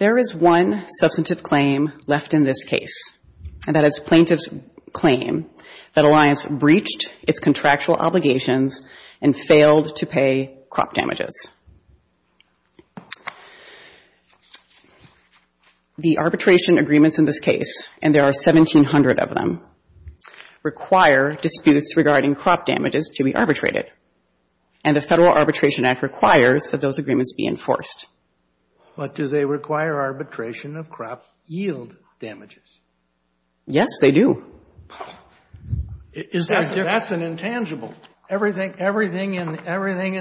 There is one substantive claim left in this case, and that is plaintiff's claim that Alliance breached its contractual obligations and failed to pay crop damages. The arbitration agreements in this case, and there are 1,700 of them, require disputes regarding crop damages to be arbitrated, and the Federal Arbitration Act requires that those agreements be enforced. But do they require arbitration of crop yield damages? Yes, they do. That's an intangible. Everything in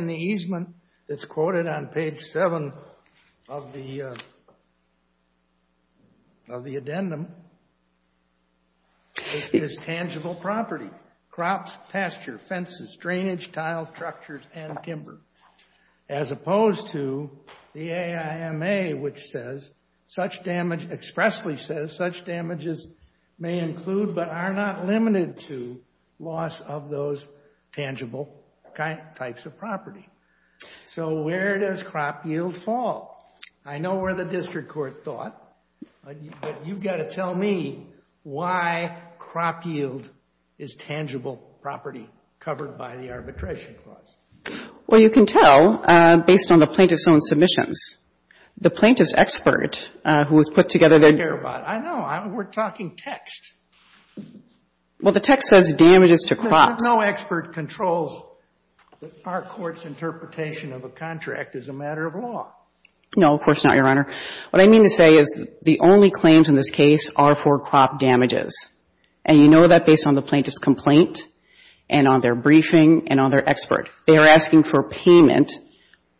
the easement that's quoted on page 7 of the addendum is tangible property. Crops, pasture, fences, drainage, tile, structures, and timber, as opposed to the AIMA, which says, such damage, expressly says, such damages may include, but are not limited to, loss of those tangible types of property. So where does crop yield fall? I know where the district court thought, but you've got to tell me why crop yield is an intangible property covered by the Arbitration Clause. Well, you can tell based on the plaintiff's own submissions. The plaintiff's expert, who has put together their — I don't care about it. I know. We're talking text. Well, the text says damages to crops. But no expert controls our Court's interpretation of a contract as a matter of law. No, of course not, Your Honor. What I mean to say is the only claims in this case are for crop damages, and you know that based on the plaintiff's complaint, and on their briefing, and on their expert. They are asking for payment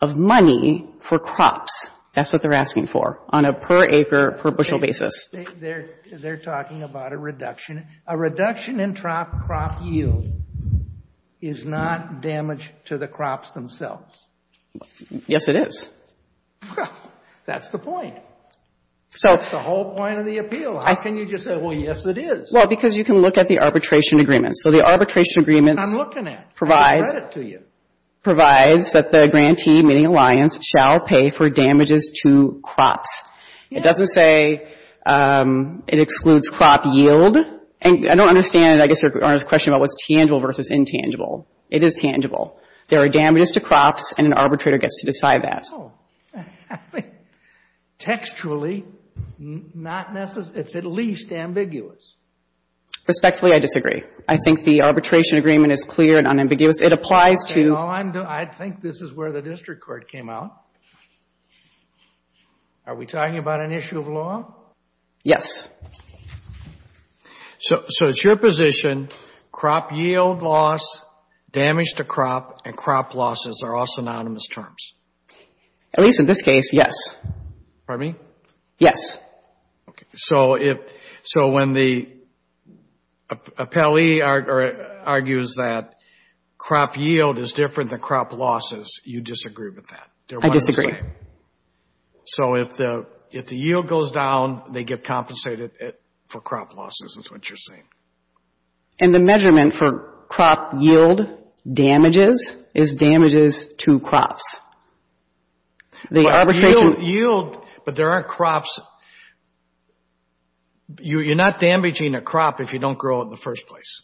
of money for crops. That's what they're asking for on a per acre, per bushel basis. They're talking about a reduction. A reduction in crop yield is not damage to the crops themselves. Yes, it is. That's the point. That's the whole point of the appeal. How can you just say, well, yes, it is? Well, because you can look at the arbitration agreements. So the arbitration agreements provides — I'm looking at it. I can read it to you. — provides that the grantee, meaning alliance, shall pay for damages to crops. It doesn't say it excludes crop yield. And I don't understand, I guess, Your Honor's question about what's tangible versus intangible. It is tangible. There are damages to crops, and an arbitrator gets to decide that. Oh. I mean, textually, it's at least ambiguous. Respectfully, I disagree. I think the arbitration agreement is clear and unambiguous. It applies to — Okay, well, I think this is where the district court came out. Are we talking about an issue of law? Yes. So it's your position crop yield loss, damage to crop, and crop losses are all synonymous terms? At least in this case, yes. Pardon me? Yes. Okay. So when the appellee argues that crop yield is different than crop losses, you disagree with that? I disagree. So if the yield goes down, they get compensated for crop losses is what you're saying. And the measurement for crop yield damages is damages to crops. The arbitration — Yield, but there aren't crops. You're not damaging a crop if you don't grow it in the first place.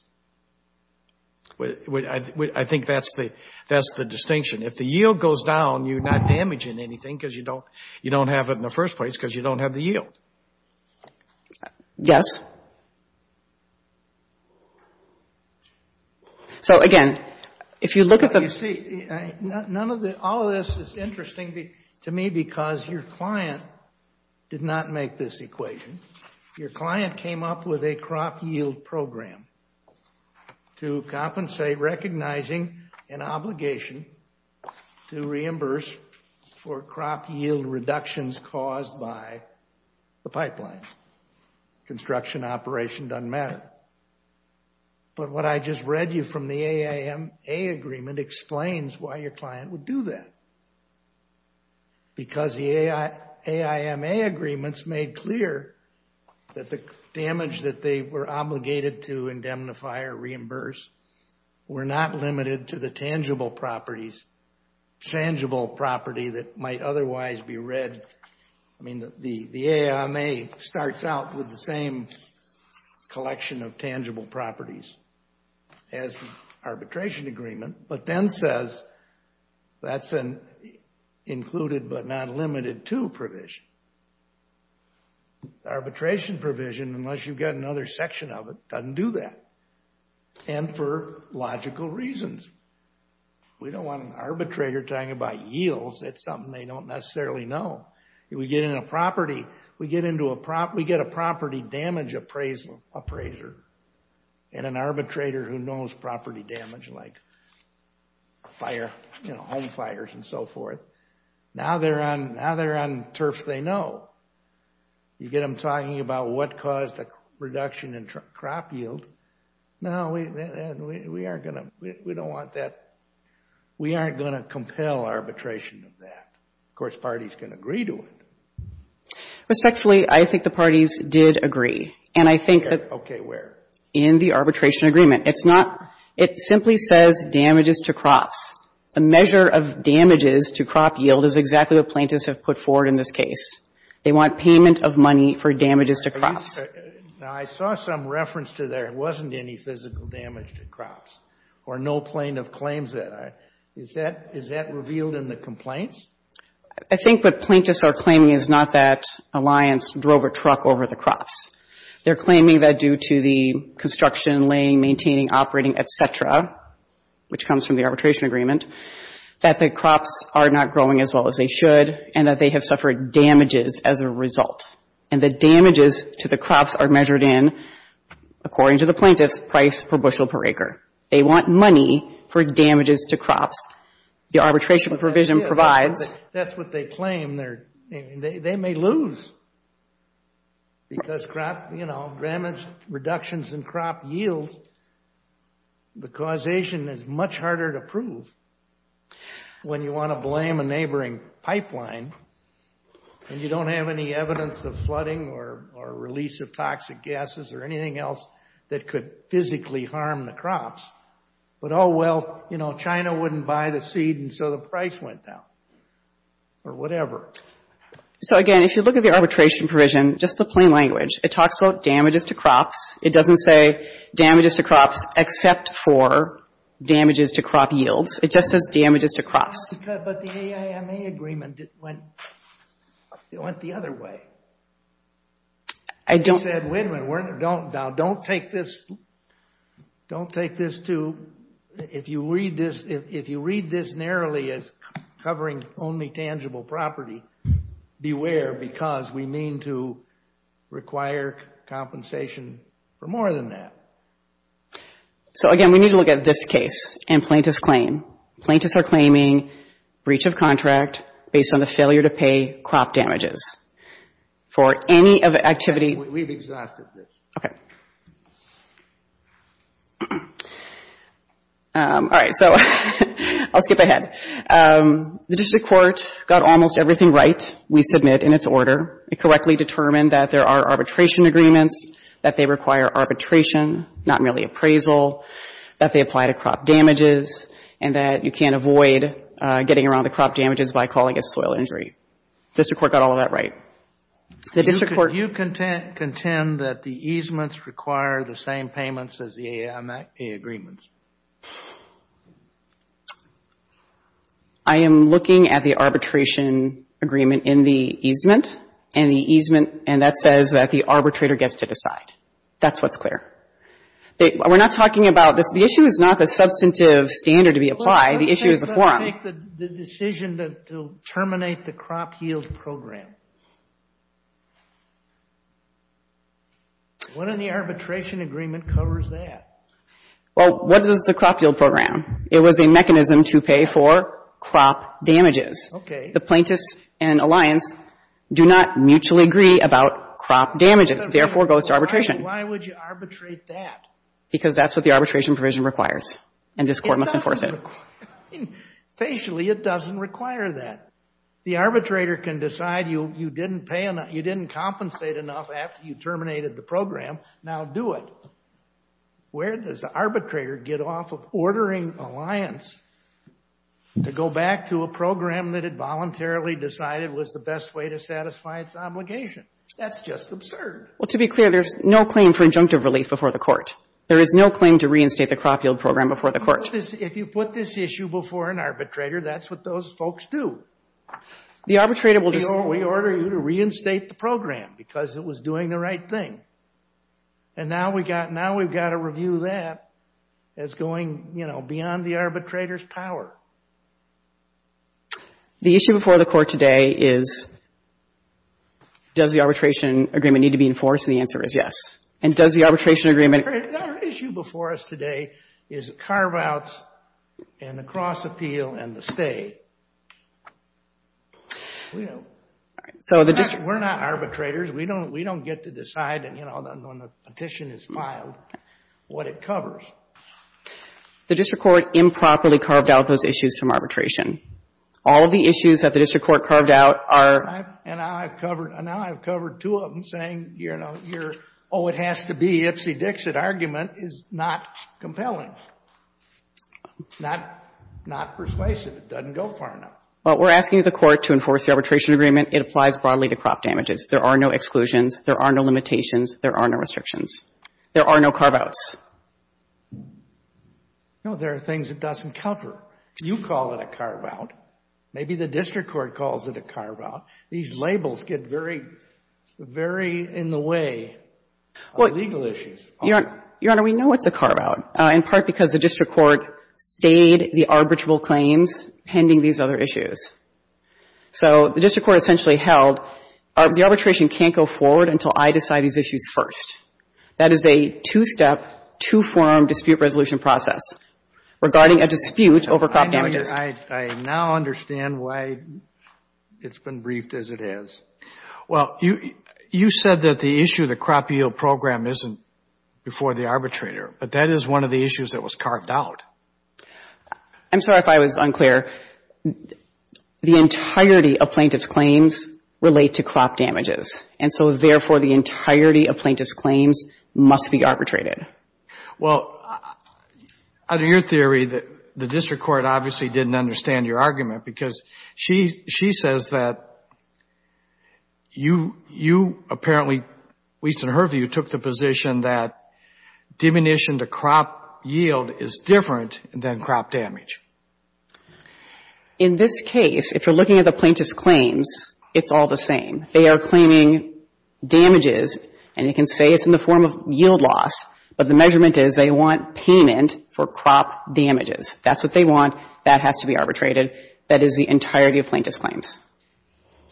I think that's the distinction. If the yield goes down, you're not damaging anything because you don't have it in the first place because you don't have the yield. Yes. So, again, if you look at the — You see, none of the — all of this is interesting to me because your client did not make this equation. Your client came up with a crop yield program to compensate, recognizing an obligation to reimburse for crop yield reductions caused by the pipeline. Construction operation doesn't matter. But what I just read you from the AIMA agreement explains why your client would do that. Because the AIMA agreements made clear that the damage that they were obligated to indemnify or reimburse were not limited to the tangible properties. Tangible property that might otherwise be read — I mean, the AIMA starts out with the same collection of tangible properties as the arbitration agreement, but then says that's an included but not limited to provision. Arbitration provision, unless you've got another section of it, doesn't do that. And for logical reasons. We don't want an arbitrator talking about yields. That's something they don't necessarily know. We get into a property — we get a property damage appraiser and an arbitrator who knows property damage like fire — you know, home fires and so forth. Now they're on turf they know. You get them talking about what caused the reduction in crop yield. No, we aren't going to — we don't want that. We aren't going to compel arbitration of that. Of course, parties can agree to it. Respectfully, I think the parties did agree. And I think that — Okay, where? In the arbitration agreement. It's not — it simply says damages to crops. A measure of damages to crop yield is exactly what plaintiffs have put forward in this case. They want payment of money for damages to crops. Now, I saw some reference to there wasn't any physical damage to crops or no plaintiff claims that. Is that — is that revealed in the complaints? I think what plaintiffs are claiming is not that Alliance drove a truck over the crops. They're claiming that due to the construction, laying, maintaining, operating, et cetera, which comes from the arbitration agreement, that the crops are not growing as well as they should and that they have suffered damages as a result. And the damages to the crops are measured in, according to the plaintiffs, price per bushel per acre. They want money for damages to crops. The arbitration provision provides — That's what they claim. They may lose because crop, you know, damage reductions in crop yield. The causation is much harder to prove when you want to blame a neighboring pipeline and you don't have any evidence of flooding or release of toxic gases or anything else that could physically harm the crops. But, oh, well, you know, China wouldn't buy the seed and so the price went down or whatever. So, again, if you look at the arbitration provision, just the plain language, it talks about damages to crops. It doesn't say damages to crops except for damages to crop yields. It just says damages to crops. But the AIMA agreement went the other way. I don't — You said, wait a minute, now don't take this to — if you read this narrowly as covering only tangible property, beware because we mean to require compensation for more than that. So, again, we need to look at this case and plaintiffs' claim. Plaintiffs are claiming breach of contract based on the failure to pay crop damages. For any activity — We've exhausted this. Okay. All right, so I'll skip ahead. The district court got almost everything right we submit in its order. It correctly determined that there are arbitration agreements, that they require arbitration, not merely appraisal, that they apply to crop damages, and that you can't avoid getting around the crop damages by calling a soil injury. The district court got all of that right. The district court — Do you contend that the easements require the same payments as the AIMA agreements? I am looking at the arbitration agreement in the easement, and the easement — and that says that the arbitrator gets to decide. That's what's clear. We're not talking about this. The issue is not the substantive standard to be applied. The issue is the forum. Well, let's just not make the decision to terminate the crop yield program. What in the arbitration agreement covers that? Well, what is the crop yield program? It was a mechanism to pay for crop damages. Okay. The plaintiffs and Alliance do not mutually agree about crop damages, therefore goes to arbitration. Why would you arbitrate that? Because that's what the arbitration provision requires, and this Court must enforce it. Facially, it doesn't require that. The arbitrator can decide you didn't compensate enough after you terminated the program. Now do it. Where does the arbitrator get off of ordering Alliance to go back to a program that it voluntarily decided was the best way to satisfy its obligation? That's just absurd. Well, to be clear, there's no claim for injunctive relief before the Court. There is no claim to reinstate the crop yield program before the Court. If you put this issue before an arbitrator, that's what those folks do. We order you to reinstate the program because it was doing the right thing. And now we've got to review that as going, you know, beyond the arbitrator's power. The issue before the Court today is, does the arbitration agreement need to be enforced? And the answer is yes. And does the arbitration agreement The issue before us today is carve-outs and the cross-appeal and the stay. We're not arbitrators. We don't get to decide, you know, when the petition is filed, what it covers. The district court improperly carved out those issues from arbitration. All of the issues that the district court carved out are And now I've covered two of them, saying, you know, your, oh, it has to be Ipsy-Dixit argument is not compelling, not persuasive. It doesn't go far enough. Well, we're asking the Court to enforce the arbitration agreement. It applies broadly to crop damages. There are no exclusions. There are no limitations. There are no restrictions. There are no carve-outs. No, there are things it doesn't cover. You call it a carve-out. Maybe the district court calls it a carve-out. These labels get very, very in the way of legal issues. Your Honor, we know it's a carve-out, in part because the district court stayed the arbitrable claims pending these other issues. So the district court essentially held, the arbitration can't go forward until I decide these issues first. That is a two-step, two-form dispute resolution process regarding a dispute over crop damages. I now understand why it's been briefed as it is. Well, you said that the issue of the crop yield program isn't before the arbitrator. But that is one of the issues that was carved out. I'm sorry if I was unclear. The entirety of plaintiff's claims relate to crop damages. And so, therefore, the entirety of plaintiff's claims must be arbitrated. Well, under your theory, the district court obviously didn't understand your argument because she says that you apparently, at least in her view, took the position that diminution to crop yield is different than crop damage. In this case, if you're looking at the plaintiff's claims, it's all the same. They are claiming damages, and you can say it's in the form of yield loss. But the measurement is they want payment for crop damages. That's what they want. That has to be arbitrated. That is the entirety of plaintiff's claims.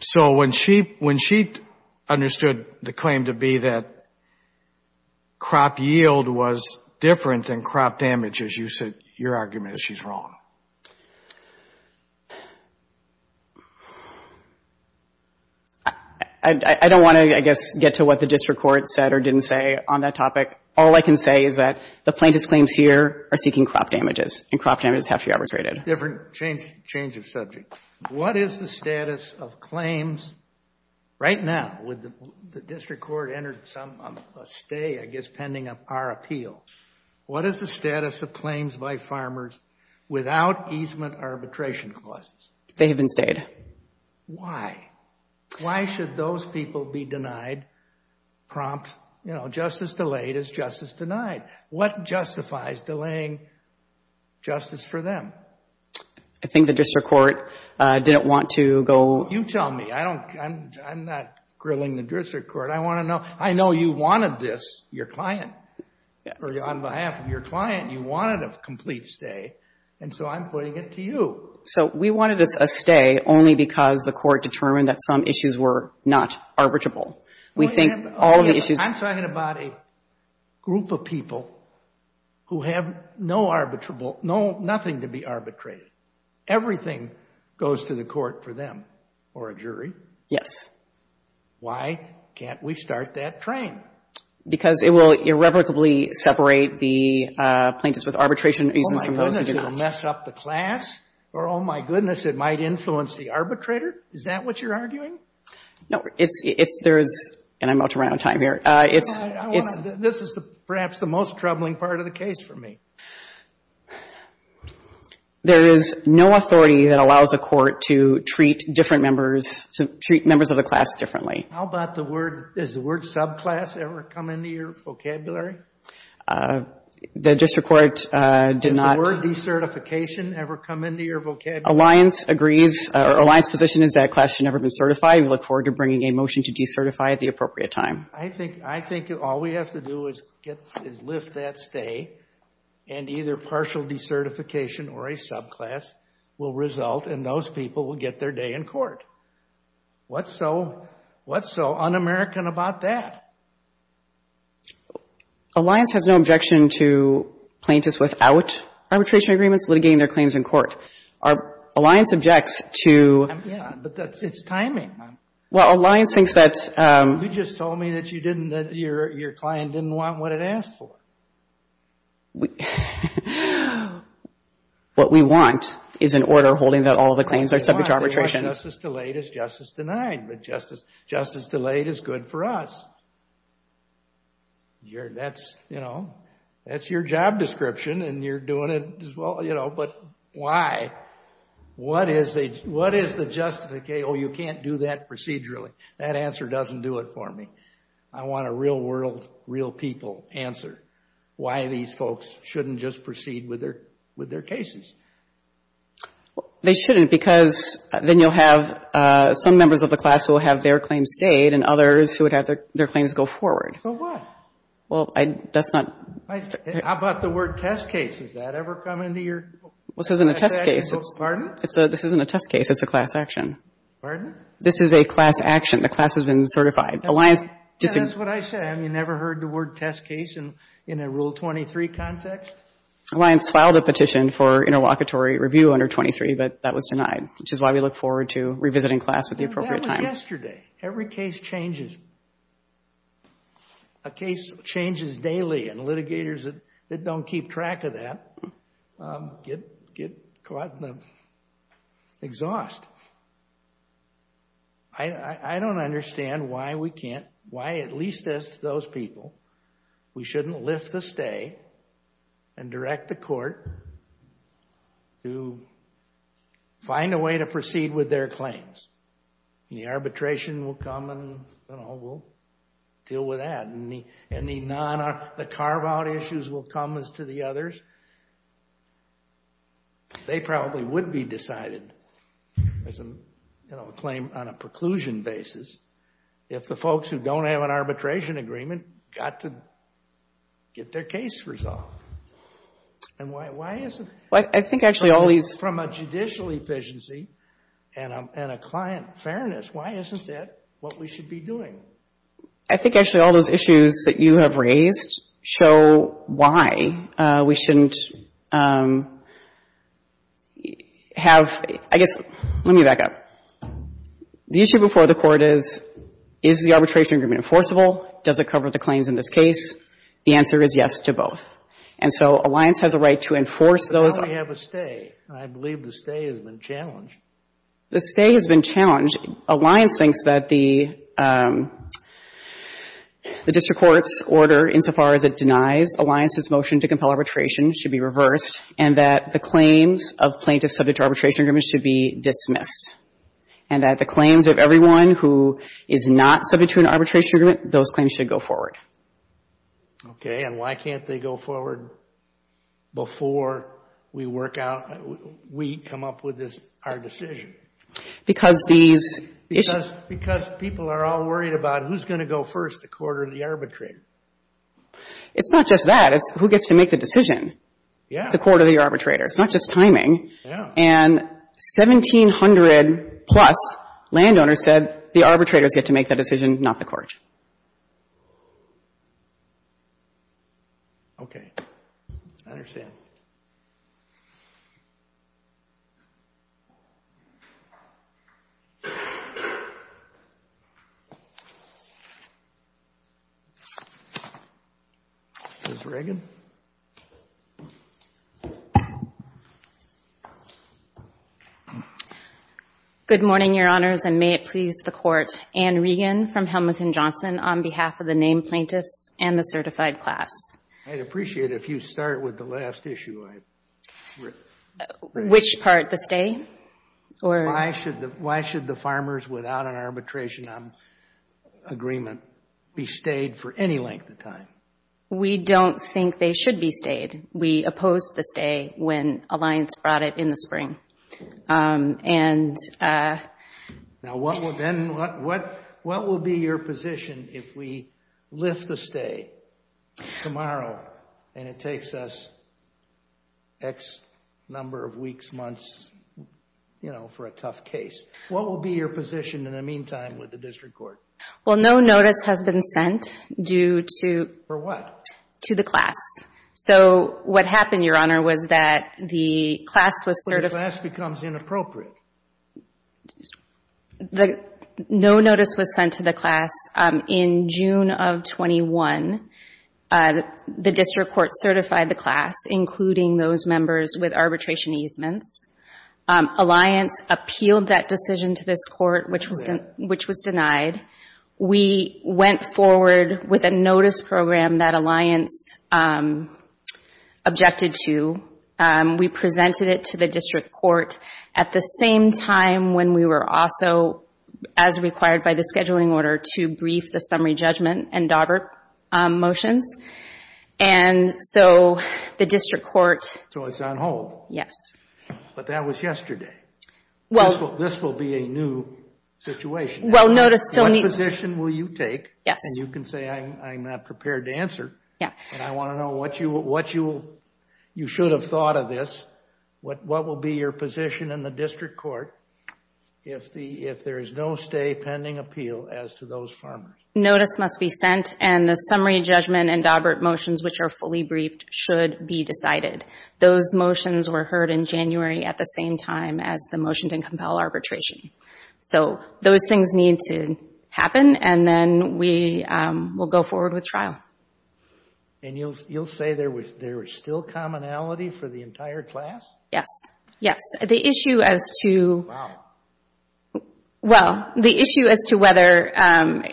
So when she understood the claim to be that crop yield was different than crop I don't want to, I guess, get to what the district court said or didn't say on that topic. All I can say is that the plaintiff's claims here are seeking crop damages, and crop damages have to be arbitrated. A different change of subject. What is the status of claims right now? The district court entered a stay, I guess, pending our appeals. What is the status of claims by farmers without easement arbitration costs? They have been stayed. Why? Why should those people be denied crops just as delayed as justice denied? What justifies delaying justice for them? I think the district court didn't want to go. You tell me. I'm not grilling the district court. I want to know. I know you wanted this, your client, or on behalf of your client, you wanted a complete stay, and so I'm putting it to you. So we wanted a stay only because the court determined that some issues were not arbitrable. We think all the issues I'm talking about a group of people who have no arbitrable, nothing to be arbitrated. Everything goes to the court for them or a jury. Yes. Why can't we start that train? Because it will irrevocably separate the plaintiffs with arbitration reasons from those who do not. It will mess up the class or, oh, my goodness, it might influence the arbitrator. Is that what you're arguing? No. There is, and I'm about to run out of time here, it's This is perhaps the most troubling part of the case for me. There is no authority that allows a court to treat different members, to treat members of the class differently. How about the word, does the word subclass ever come into your vocabulary? The district court did not Does the word decertification ever come into your vocabulary? Alliance agrees, or Alliance's position is that class should never be certified. We look forward to bringing a motion to decertify at the appropriate time. I think all we have to do is lift that stay, and either partial decertification or a subclass will result, and those people will get their day in court. What's so un-American about that? Alliance has no objection to plaintiffs without arbitration agreements litigating their claims in court. Alliance objects to But it's timing. Well, Alliance thinks that You just told me that you didn't, that your client didn't want what it asked for. What we want is an order holding that all the claims are subject to arbitration. Justice delayed is justice denied, but justice delayed is good for us. That's your job description, and you're doing it as well, but why? What is the justification? Oh, you can't do that procedurally. That answer doesn't do it for me. I want a real world, real people answer why these folks shouldn't just proceed with their cases. They shouldn't because then you'll have some members of the class who will have their claims stayed and others who would have their claims go forward. So what? Well, that's not How about the word test case? Does that ever come into your This isn't a test case. Pardon? This isn't a test case. It's a class action. Pardon? This is a class action. The class has been certified. That's what I said. You never heard the word test case in a Rule 23 context? Alliance filed a petition for interlocutory review under 23, but that was denied, which is why we look forward to revisiting class at the appropriate time. That was yesterday. Every case changes. A case changes daily, and litigators that don't keep track of that get caught in the exhaust. I don't understand why we can't, why at least those people, we shouldn't lift the stay and direct the court to find a way to proceed with their claims. The arbitration will come, and we'll deal with that. And the carve-out issues will come as to the others. They probably would be decided as a claim on a preclusion basis if the folks who don't have an arbitration agreement got to get their case resolved. And why isn't it? I think actually all these From a judicial efficiency and a client fairness, why isn't that what we should be doing? I think actually all those issues that you have raised show why we shouldn't have, I guess, let me back up. The issue before the court is, is the arbitration agreement enforceable? Does it cover the claims in this case? The answer is yes to both. And so Alliance has a right to enforce those. But now we have a stay, and I believe the stay has been challenged. The stay has been challenged. Alliance thinks that the district court's order, insofar as it denies Alliance's motion to compel arbitration, should be reversed, and that the claims of plaintiffs subject to arbitration agreements should be dismissed. And that the claims of everyone who is not subject to an arbitration agreement, those claims should go forward. Okay. And why can't they go forward before we work out, we come up with our decision? Because these issues Because people are all worried about who's going to go first, the court or the arbitrator. It's not just that. It's who gets to make the decision. Yeah. The court or the arbitrator. It's not just timing. Yeah. And 1,700-plus landowners said the arbitrators get to make the decision, not the court. Okay. I understand. Ms. Regan. Good morning, Your Honors, and may it please the Court. Ann Regan from Helmuth & Johnson, on behalf of the named plaintiffs and the certified class. I'd appreciate it if you'd start with the last issue. Which part, the stay? Why should the farmers, without an arbitration agreement, be stayed for any length of time? We don't think they should be stayed. We opposed the stay when Alliance brought it in the spring. Now, what will be your position if we lift the stay tomorrow and it takes us X number of weeks, months, you know, for a tough case? What will be your position in the meantime with the district court? Well, no notice has been sent due to For what? To the class. So what happened, Your Honor, was that the class was certified So the class becomes inappropriate? No notice was sent to the class. In June of 21, the district court certified the class, including those members with arbitration easements. Alliance appealed that decision to this court, which was denied. We went forward with a notice program that Alliance objected to. We presented it to the district court at the same time when we were also, as required by the scheduling order, to brief the summary judgment and Daubert motions. And so the district court So it's on hold. Yes. But that was yesterday. This will be a new situation. Well, notice still needs What position will you take? Yes. And you can say I'm not prepared to answer. Yeah. And I want to know what you should have thought of this. What will be your position in the district court if there is no stay pending appeal as to those farmers? Notice must be sent and the summary judgment and Daubert motions, which are fully briefed, should be decided. Those motions were heard in January at the same time as the motion to compel arbitration. So those things need to happen, and then we will go forward with trial. And you'll say there is still commonality for the entire class? Yes. Yes. The issue as to Wow. Well, the issue as to whether, and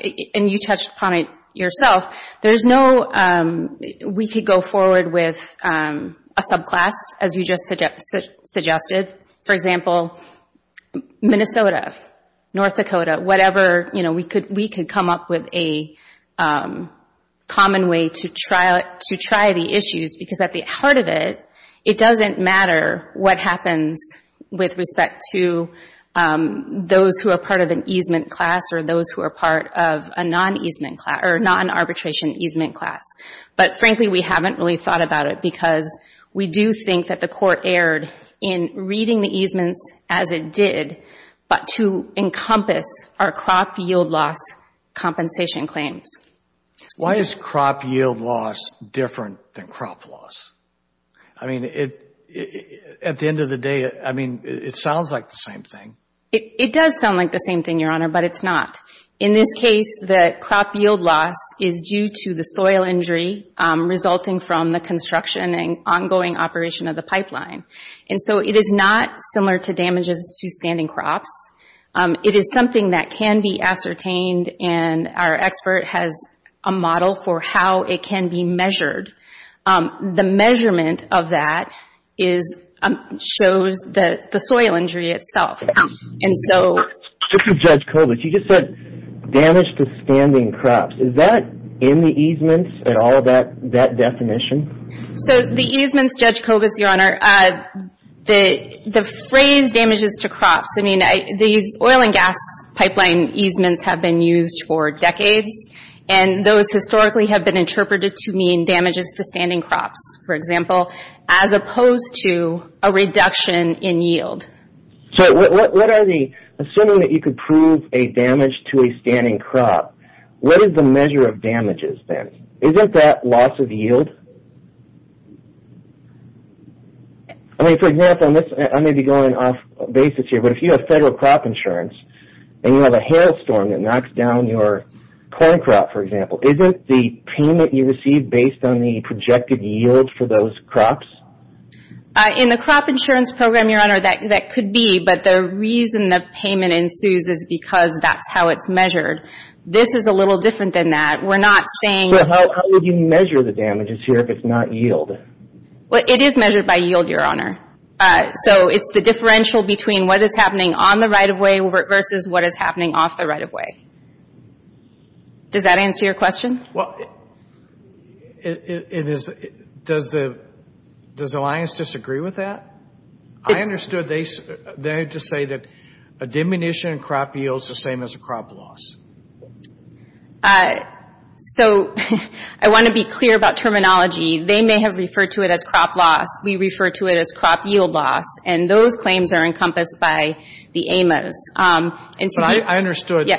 you touched upon it yourself, there is no, we could go forward with a subclass, as you just suggested. For example, Minnesota, North Dakota, whatever, we could come up with a common way to try the issues, because at the heart of it, it doesn't matter what happens with respect to those who are part of an easement class or those who are part of a non-arbitration easement class. But frankly, we haven't really thought about it because we do think that the court erred in reading the easements as it did, but to encompass our crop yield loss compensation claims. Why is crop yield loss different than crop loss? I mean, at the end of the day, I mean, it sounds like the same thing. It does sound like the same thing, Your Honor, but it's not. In this case, the crop yield loss is due to the soil injury resulting from the construction and ongoing operation of the pipeline. And so it is not similar to damages to standing crops. It is something that can be ascertained, and our expert has a model for how it can be measured. The measurement of that shows the soil injury itself. This is Judge Kobus. You just said damage to standing crops. Is that in the easements at all, that definition? So the easements, Judge Kobus, Your Honor, the phrase damages to crops, I mean, these oil and gas pipeline easements have been used for decades, and those historically have been interpreted to mean damages to standing crops, for example, as opposed to a reduction in yield. Assuming that you could prove a damage to a standing crop, what is the measure of damages then? Isn't that loss of yield? I mean, for example, I may be going off basis here, but if you have federal crop insurance and you have a hailstorm that knocks down your corn crop, for example, isn't the payment you receive based on the projected yield for those crops? In the crop insurance program, Your Honor, that could be, but the reason the payment ensues is because that's how it's measured. This is a little different than that. We're not saying that – But how would you measure the damages here if it's not yield? Well, it is measured by yield, Your Honor. So it's the differential between what is happening on the right-of-way versus what is happening off the right-of-way. Does that answer your question? Well, it is – does Alliance disagree with that? I understood they had to say that a diminution in crop yield is the same as a crop loss. So I want to be clear about terminology. They may have referred to it as crop loss. We refer to it as crop yield loss, and those claims are encompassed by the AMAs. But I understood,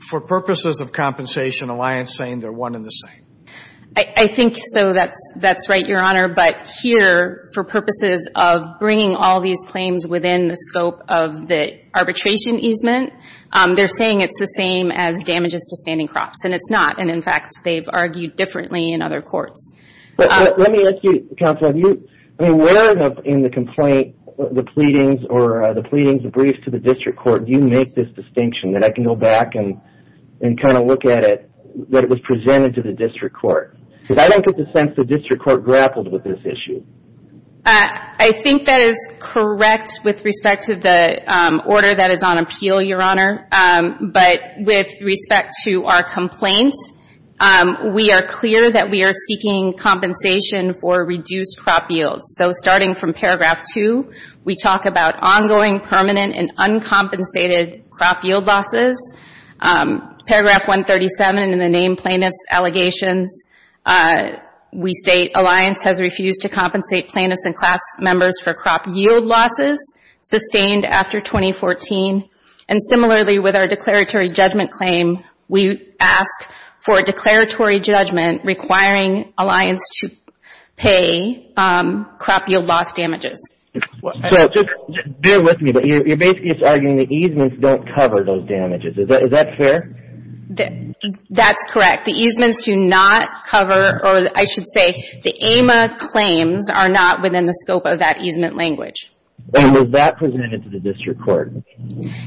for purposes of compensation, Alliance saying they're one and the same. I think so. That's right, Your Honor. But here, for purposes of bringing all these claims within the scope of the arbitration easement, they're saying it's the same as damages to standing crops, and it's not. And, in fact, they've argued differently in other courts. Let me ask you, Counsel, have you – where in the complaint, the pleadings or the briefs to the district court, do you make this distinction that I can go back and kind of look at it, that it was presented to the district court? Because I don't get the sense the district court grappled with this issue. I think that is correct with respect to the order that is on appeal, Your Honor. But with respect to our complaint, we are clear that we are seeking compensation for reduced crop yields. So, starting from Paragraph 2, we talk about ongoing, permanent, and uncompensated crop yield losses. Paragraph 137, in the name plaintiff's allegations, we state, Alliance has refused to compensate plaintiffs and class members for crop yield losses sustained after 2014. And, similarly, with our declaratory judgment claim, we ask for a declaratory judgment requiring Alliance to pay crop yield loss damages. So, just bear with me, but you're basically just arguing the easements don't cover those damages. Is that fair? That's correct. The easements do not cover – or, I should say, the AMA claims are not within the scope of that easement language. And was that presented to the district court?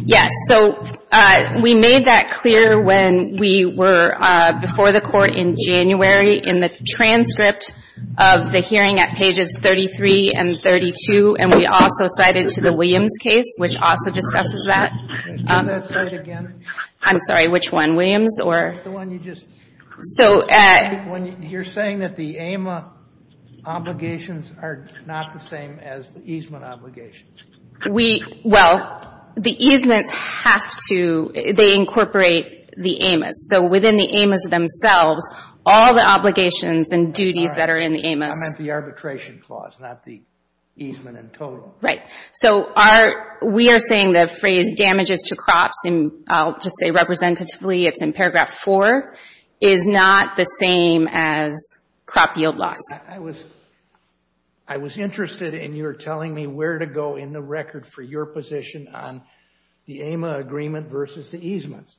Yes. So, we made that clear when we were before the Court in January in the transcript of the hearing at pages 33 and 32. And we also cited to the Williams case, which also discusses that. Can you say that again? I'm sorry. Which one? Williams or? The one you just – So – You're saying that the AMA obligations are not the same as the easement obligations. We – well, the easements have to – they incorporate the AMAs. So, within the AMAs themselves, all the obligations and duties that are in the AMAs – I meant the arbitration clause, not the easement in total. Right. So, our – we are saying the phrase damages to crops, and I'll just say representatively, it's in paragraph 4, is not the same as crop yield loss. I was interested in your telling me where to go in the record for your position on the AMA agreement versus the easements.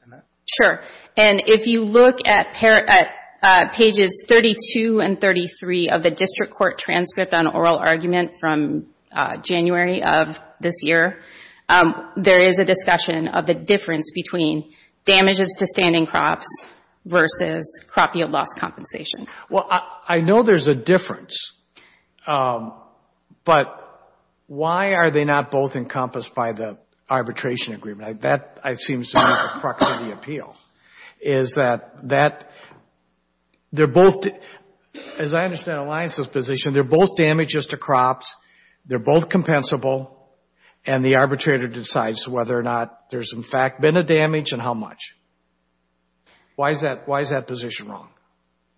Sure. And if you look at pages 32 and 33 of the district court transcript on oral argument from January of this year, there is a discussion of the difference between damages to standing crops versus crop yield loss compensation. Well, I know there's a difference, but why are they not both encompassed by the arbitration agreement? That seems to me the crux of the appeal, is that they're both – as I understand Alliance's position, they're both damages to crops, they're both compensable, and the arbitrator decides whether or not there's in fact been a damage and how much. Why is that position wrong?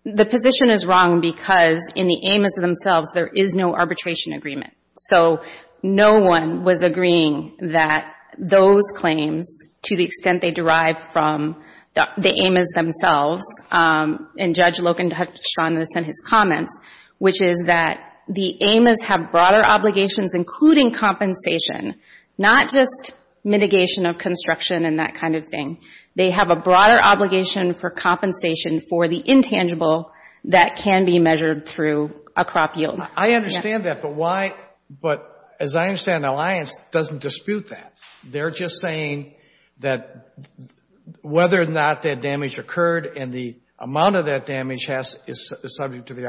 The position is wrong because in the AMA's themselves, there is no arbitration agreement. So, no one was agreeing that those claims, to the extent they derive from the AMA's themselves, and Judge Loken touched on this in his comments, which is that the AMA's have broader obligations, including compensation, not just mitigation of construction and that kind of thing. They have a broader obligation for compensation for the intangible that can be measured through a crop yield. I understand that, but why – but as I understand, Alliance doesn't dispute that. They're just saying that whether or not that damage occurred and the amount of that damage is subject to the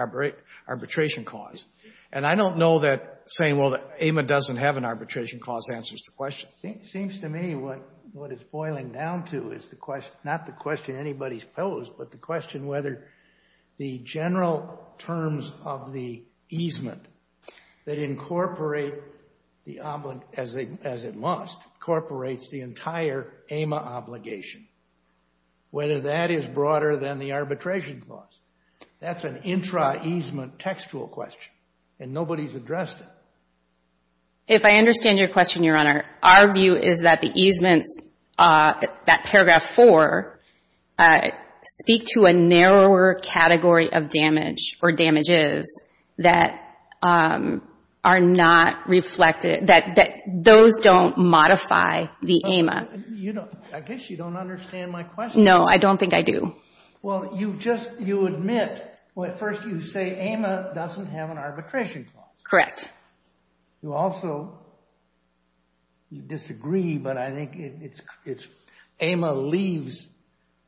arbitration clause. And I don't know that saying, well, the AMA doesn't have an arbitration clause answers the question. It seems to me what it's boiling down to is not the question anybody's posed, but the question whether the general terms of the easement that incorporate the – as it must, incorporates the entire AMA obligation, whether that is broader than the arbitration clause. That's an intra-easement textual question, and nobody's addressed it. If I understand your question, Your Honor, our view is that the easements, that paragraph 4, speak to a narrower category of damage or damages that are not reflected – that those don't modify the AMA. I guess you don't understand my question. No, I don't think I do. Well, you just – you admit – well, at first you say AMA doesn't have an arbitration clause. Correct. You also – you disagree, but I think it's – AMA leaves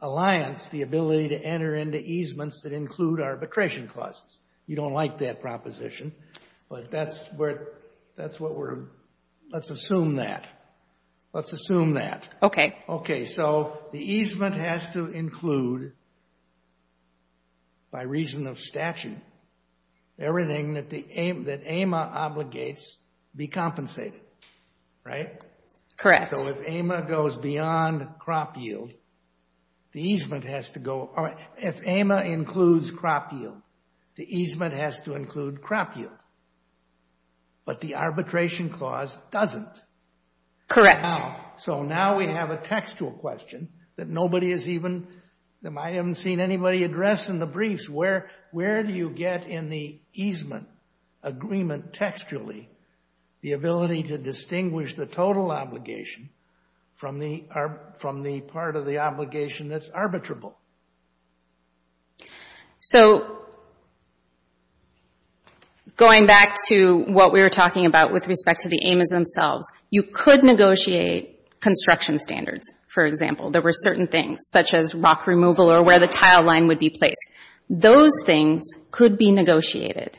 Alliance the ability to enter into easements that include arbitration clauses. You don't like that proposition, but that's what we're – let's assume that. Let's assume that. Okay. Okay, so the easement has to include, by reason of statute, everything that AMA obligates be compensated, right? Correct. So if AMA goes beyond crop yield, the easement has to go – if AMA includes crop yield, the easement has to include crop yield, but the arbitration clause doesn't. Correct. Wow. So now we have a textual question that nobody has even – I haven't seen anybody address in the briefs. Where do you get in the easement agreement textually the ability to distinguish the total obligation from the part of the obligation that's arbitrable? So going back to what we were talking about with respect to the AMAs themselves, you could negotiate construction standards, for example. There were certain things, such as rock removal or where the tile line would be placed. Those things could be negotiated.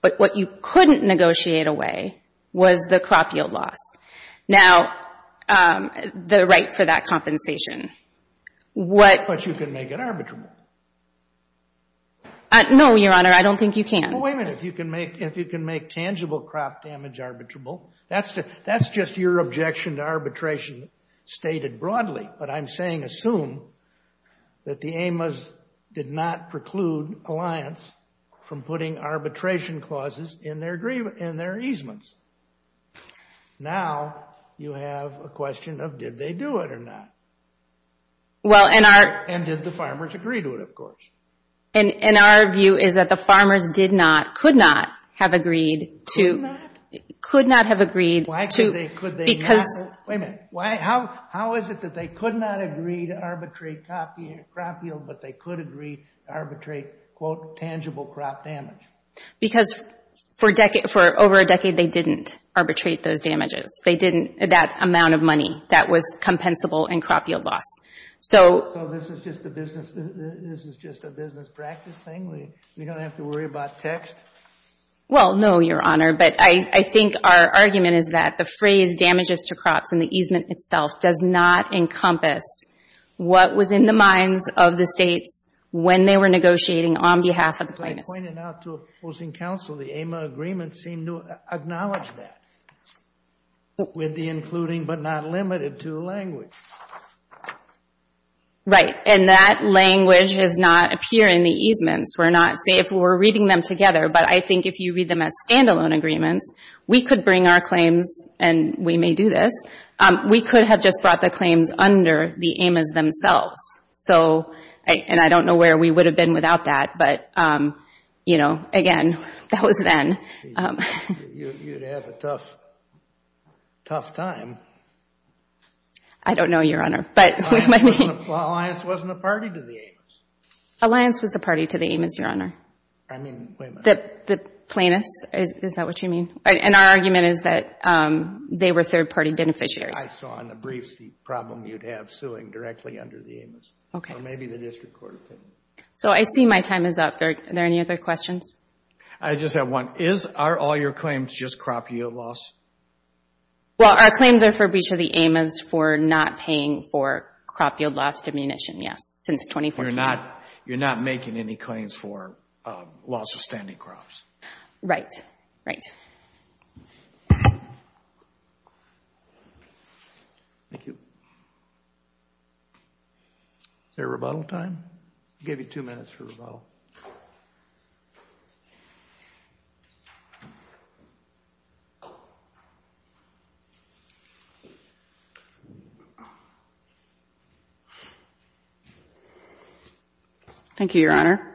But what you couldn't negotiate away was the crop yield loss. Now, the right for that compensation. But you can make it arbitrable. No, Your Honor, I don't think you can. Well, wait a minute. If you can make tangible crop damage arbitrable, that's just your objection to arbitration stated broadly. But I'm saying assume that the AMAs did not preclude Alliance from putting arbitration clauses in their easements. Now you have a question of did they do it or not. And did the farmers agree to it, of course. And our view is that the farmers did not, could not, have agreed to... Could not? Could not have agreed to... Why could they not? Because... Wait a minute. How is it that they could not agree to arbitrate crop yield, but they could agree to arbitrate quote, tangible crop damage? Because for over a decade they didn't arbitrate those damages. They didn't, that amount of money that was compensable in crop yield loss. So... So this is just a business practice thing? We don't have to worry about text? Well, no, Your Honor. But I think our argument is that the phrase damages to crops and the easement itself does not encompass what was in the minds of the states when they were negotiating on behalf of the plaintiffs. As I pointed out to opposing counsel, the AMA agreement seemed to acknowledge that with the including, but not limited to, language. Right. And that language does not appear in the easements. We're not, say if we're reading them together, but I think if you read them as standalone agreements, we could bring our claims, and we may do this, we could have just brought the claims under the AMAs themselves. So, and I don't know where we would have been without that, but, you know, again, that was then. You'd have a tough, tough time. I don't know, Your Honor, but what do you mean? Well, Alliance wasn't a party to the AMAs. Alliance was a party to the AMAs, Your Honor. I mean, wait a minute. The plaintiffs, is that what you mean? And our argument is that they were third-party beneficiaries. I saw in the briefs the problem you'd have suing directly under the AMAs. Okay. Or maybe the district court opinion. So I see my time is up. Are there any other questions? I just have one. Is, are all your claims just crop yield loss? Well, our claims are for breach of the AMAs for not paying for crop yield loss diminution. Yes. Since 2014. You're not making any claims for loss of standing crops. Right. Right. Thank you. Is there a rebuttal time? I'll give you two minutes for rebuttal. Okay. Thank you, Your Honor.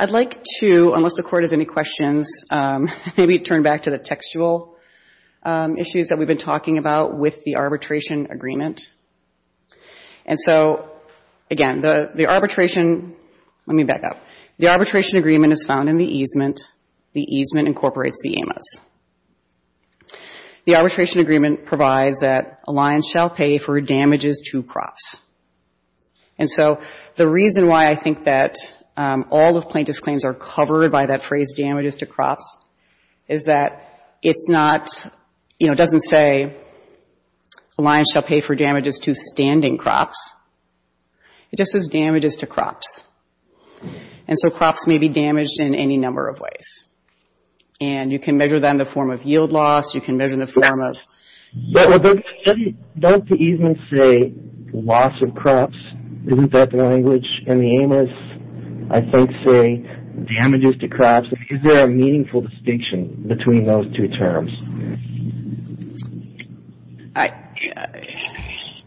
I'd like to, unless the court has any questions, maybe turn back to the textual issues that we've been talking about with the arbitration agreement. And so, again, the arbitration, let me back up. The arbitration agreement is found in the easement. The easement incorporates the AMAs. The arbitration agreement provides that a lion shall pay for damages to crops. And so, the reason why I think that all of plaintiff's claims are covered by that phrase, damages to crops, is that it's not, you know, it doesn't say a lion shall pay for damages to standing crops. It just says damages to crops. And so, crops may be damaged in any number of ways. And you can measure that in the form of yield loss. You can measure in the form of. Doesn't the easement say loss of crops? Isn't that the language? And the AMAs, I think, say damages to crops. Is there a meaningful distinction between those two terms?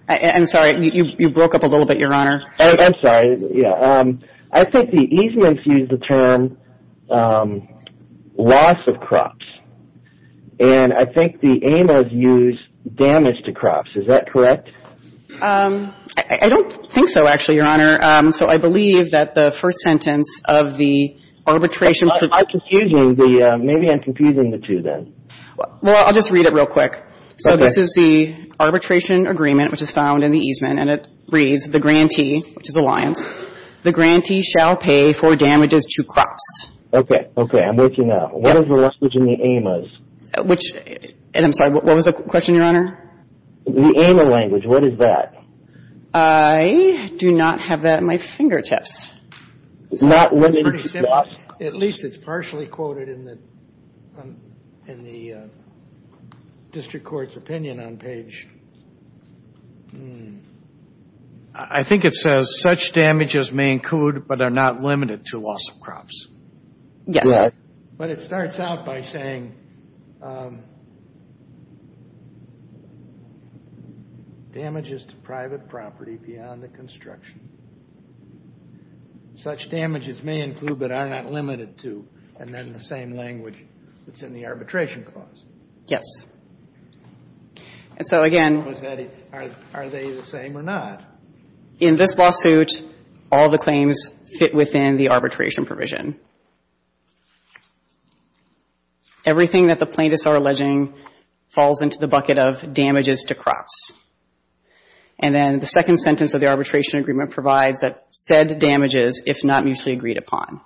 I'm sorry. You broke up a little bit, Your Honor. I'm sorry. Yeah. I think the easements use the term loss of crops. And I think the AMAs use damage to crops. Is that correct? I don't think so, actually, Your Honor. So, I believe that the first sentence of the arbitration. I'm confusing the, maybe I'm confusing the two then. Well, I'll just read it real quick. Okay. So, this is the arbitration agreement, which is found in the easement. And it reads, the grantee, which is a lion, the grantee shall pay for damages to crops. Okay. Okay. I'm working out. What is the language in the AMAs? Which, and I'm sorry, what was the question, Your Honor? The AMA language, what is that? I do not have that at my fingertips. It's not limited to crops? At least it's partially quoted in the district court's opinion on page. I think it says, such damages may include but are not limited to loss of crops. Yes. But it starts out by saying, damages to private property beyond the construction. Such damages may include but are not limited to, and then the same language that's in the arbitration clause. Yes. And so, again. Are they the same or not? In this lawsuit, all the claims fit within the arbitration provision. Everything that the plaintiffs are alleging falls into the bucket of damages to crops. And then the second sentence of the arbitration agreement provides that said damages, if not mutually agreed upon,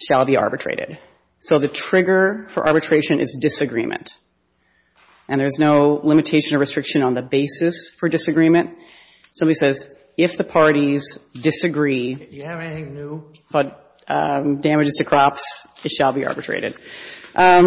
shall be arbitrated. So, the trigger for arbitration is disagreement. And there's no limitation or restriction on the basis for disagreement. Somebody says, if the parties disagree. Do you have anything new? But damages to crops, it shall be arbitrated. I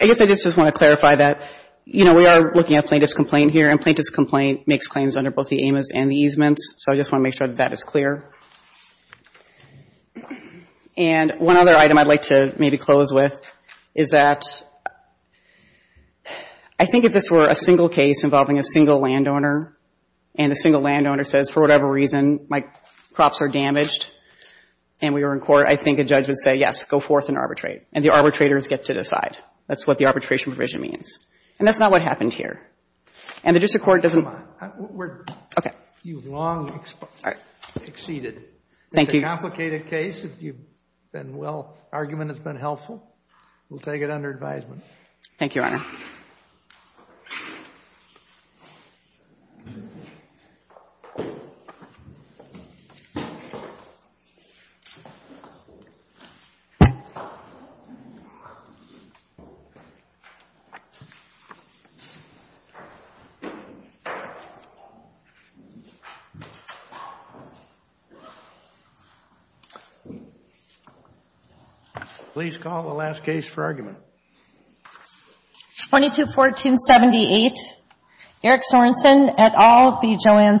guess I just want to clarify that, you know, we are looking at plaintiff's complaint here, and plaintiff's complaint makes claims under both the Amos and the easements. So, I just want to make sure that that is clear. And one other item I'd like to maybe close with is that, I think if this were a single case involving a single landowner, and the single landowner says, for whatever reason, my crops are damaged, and we were in court, I think a judge would say, yes, go forth and arbitrate. And the arbitrators get to decide. That's what the arbitration provision means. And that's not what happened here. And the district court doesn't. Okay. You've long exceeded. Thank you. It's a complicated case. If you've been well, argument has been helpful. Thank you, Your Honor. Please call the last case for argument. 22-1478, Eric Sorensen, et al. v. Joanne Sorensen.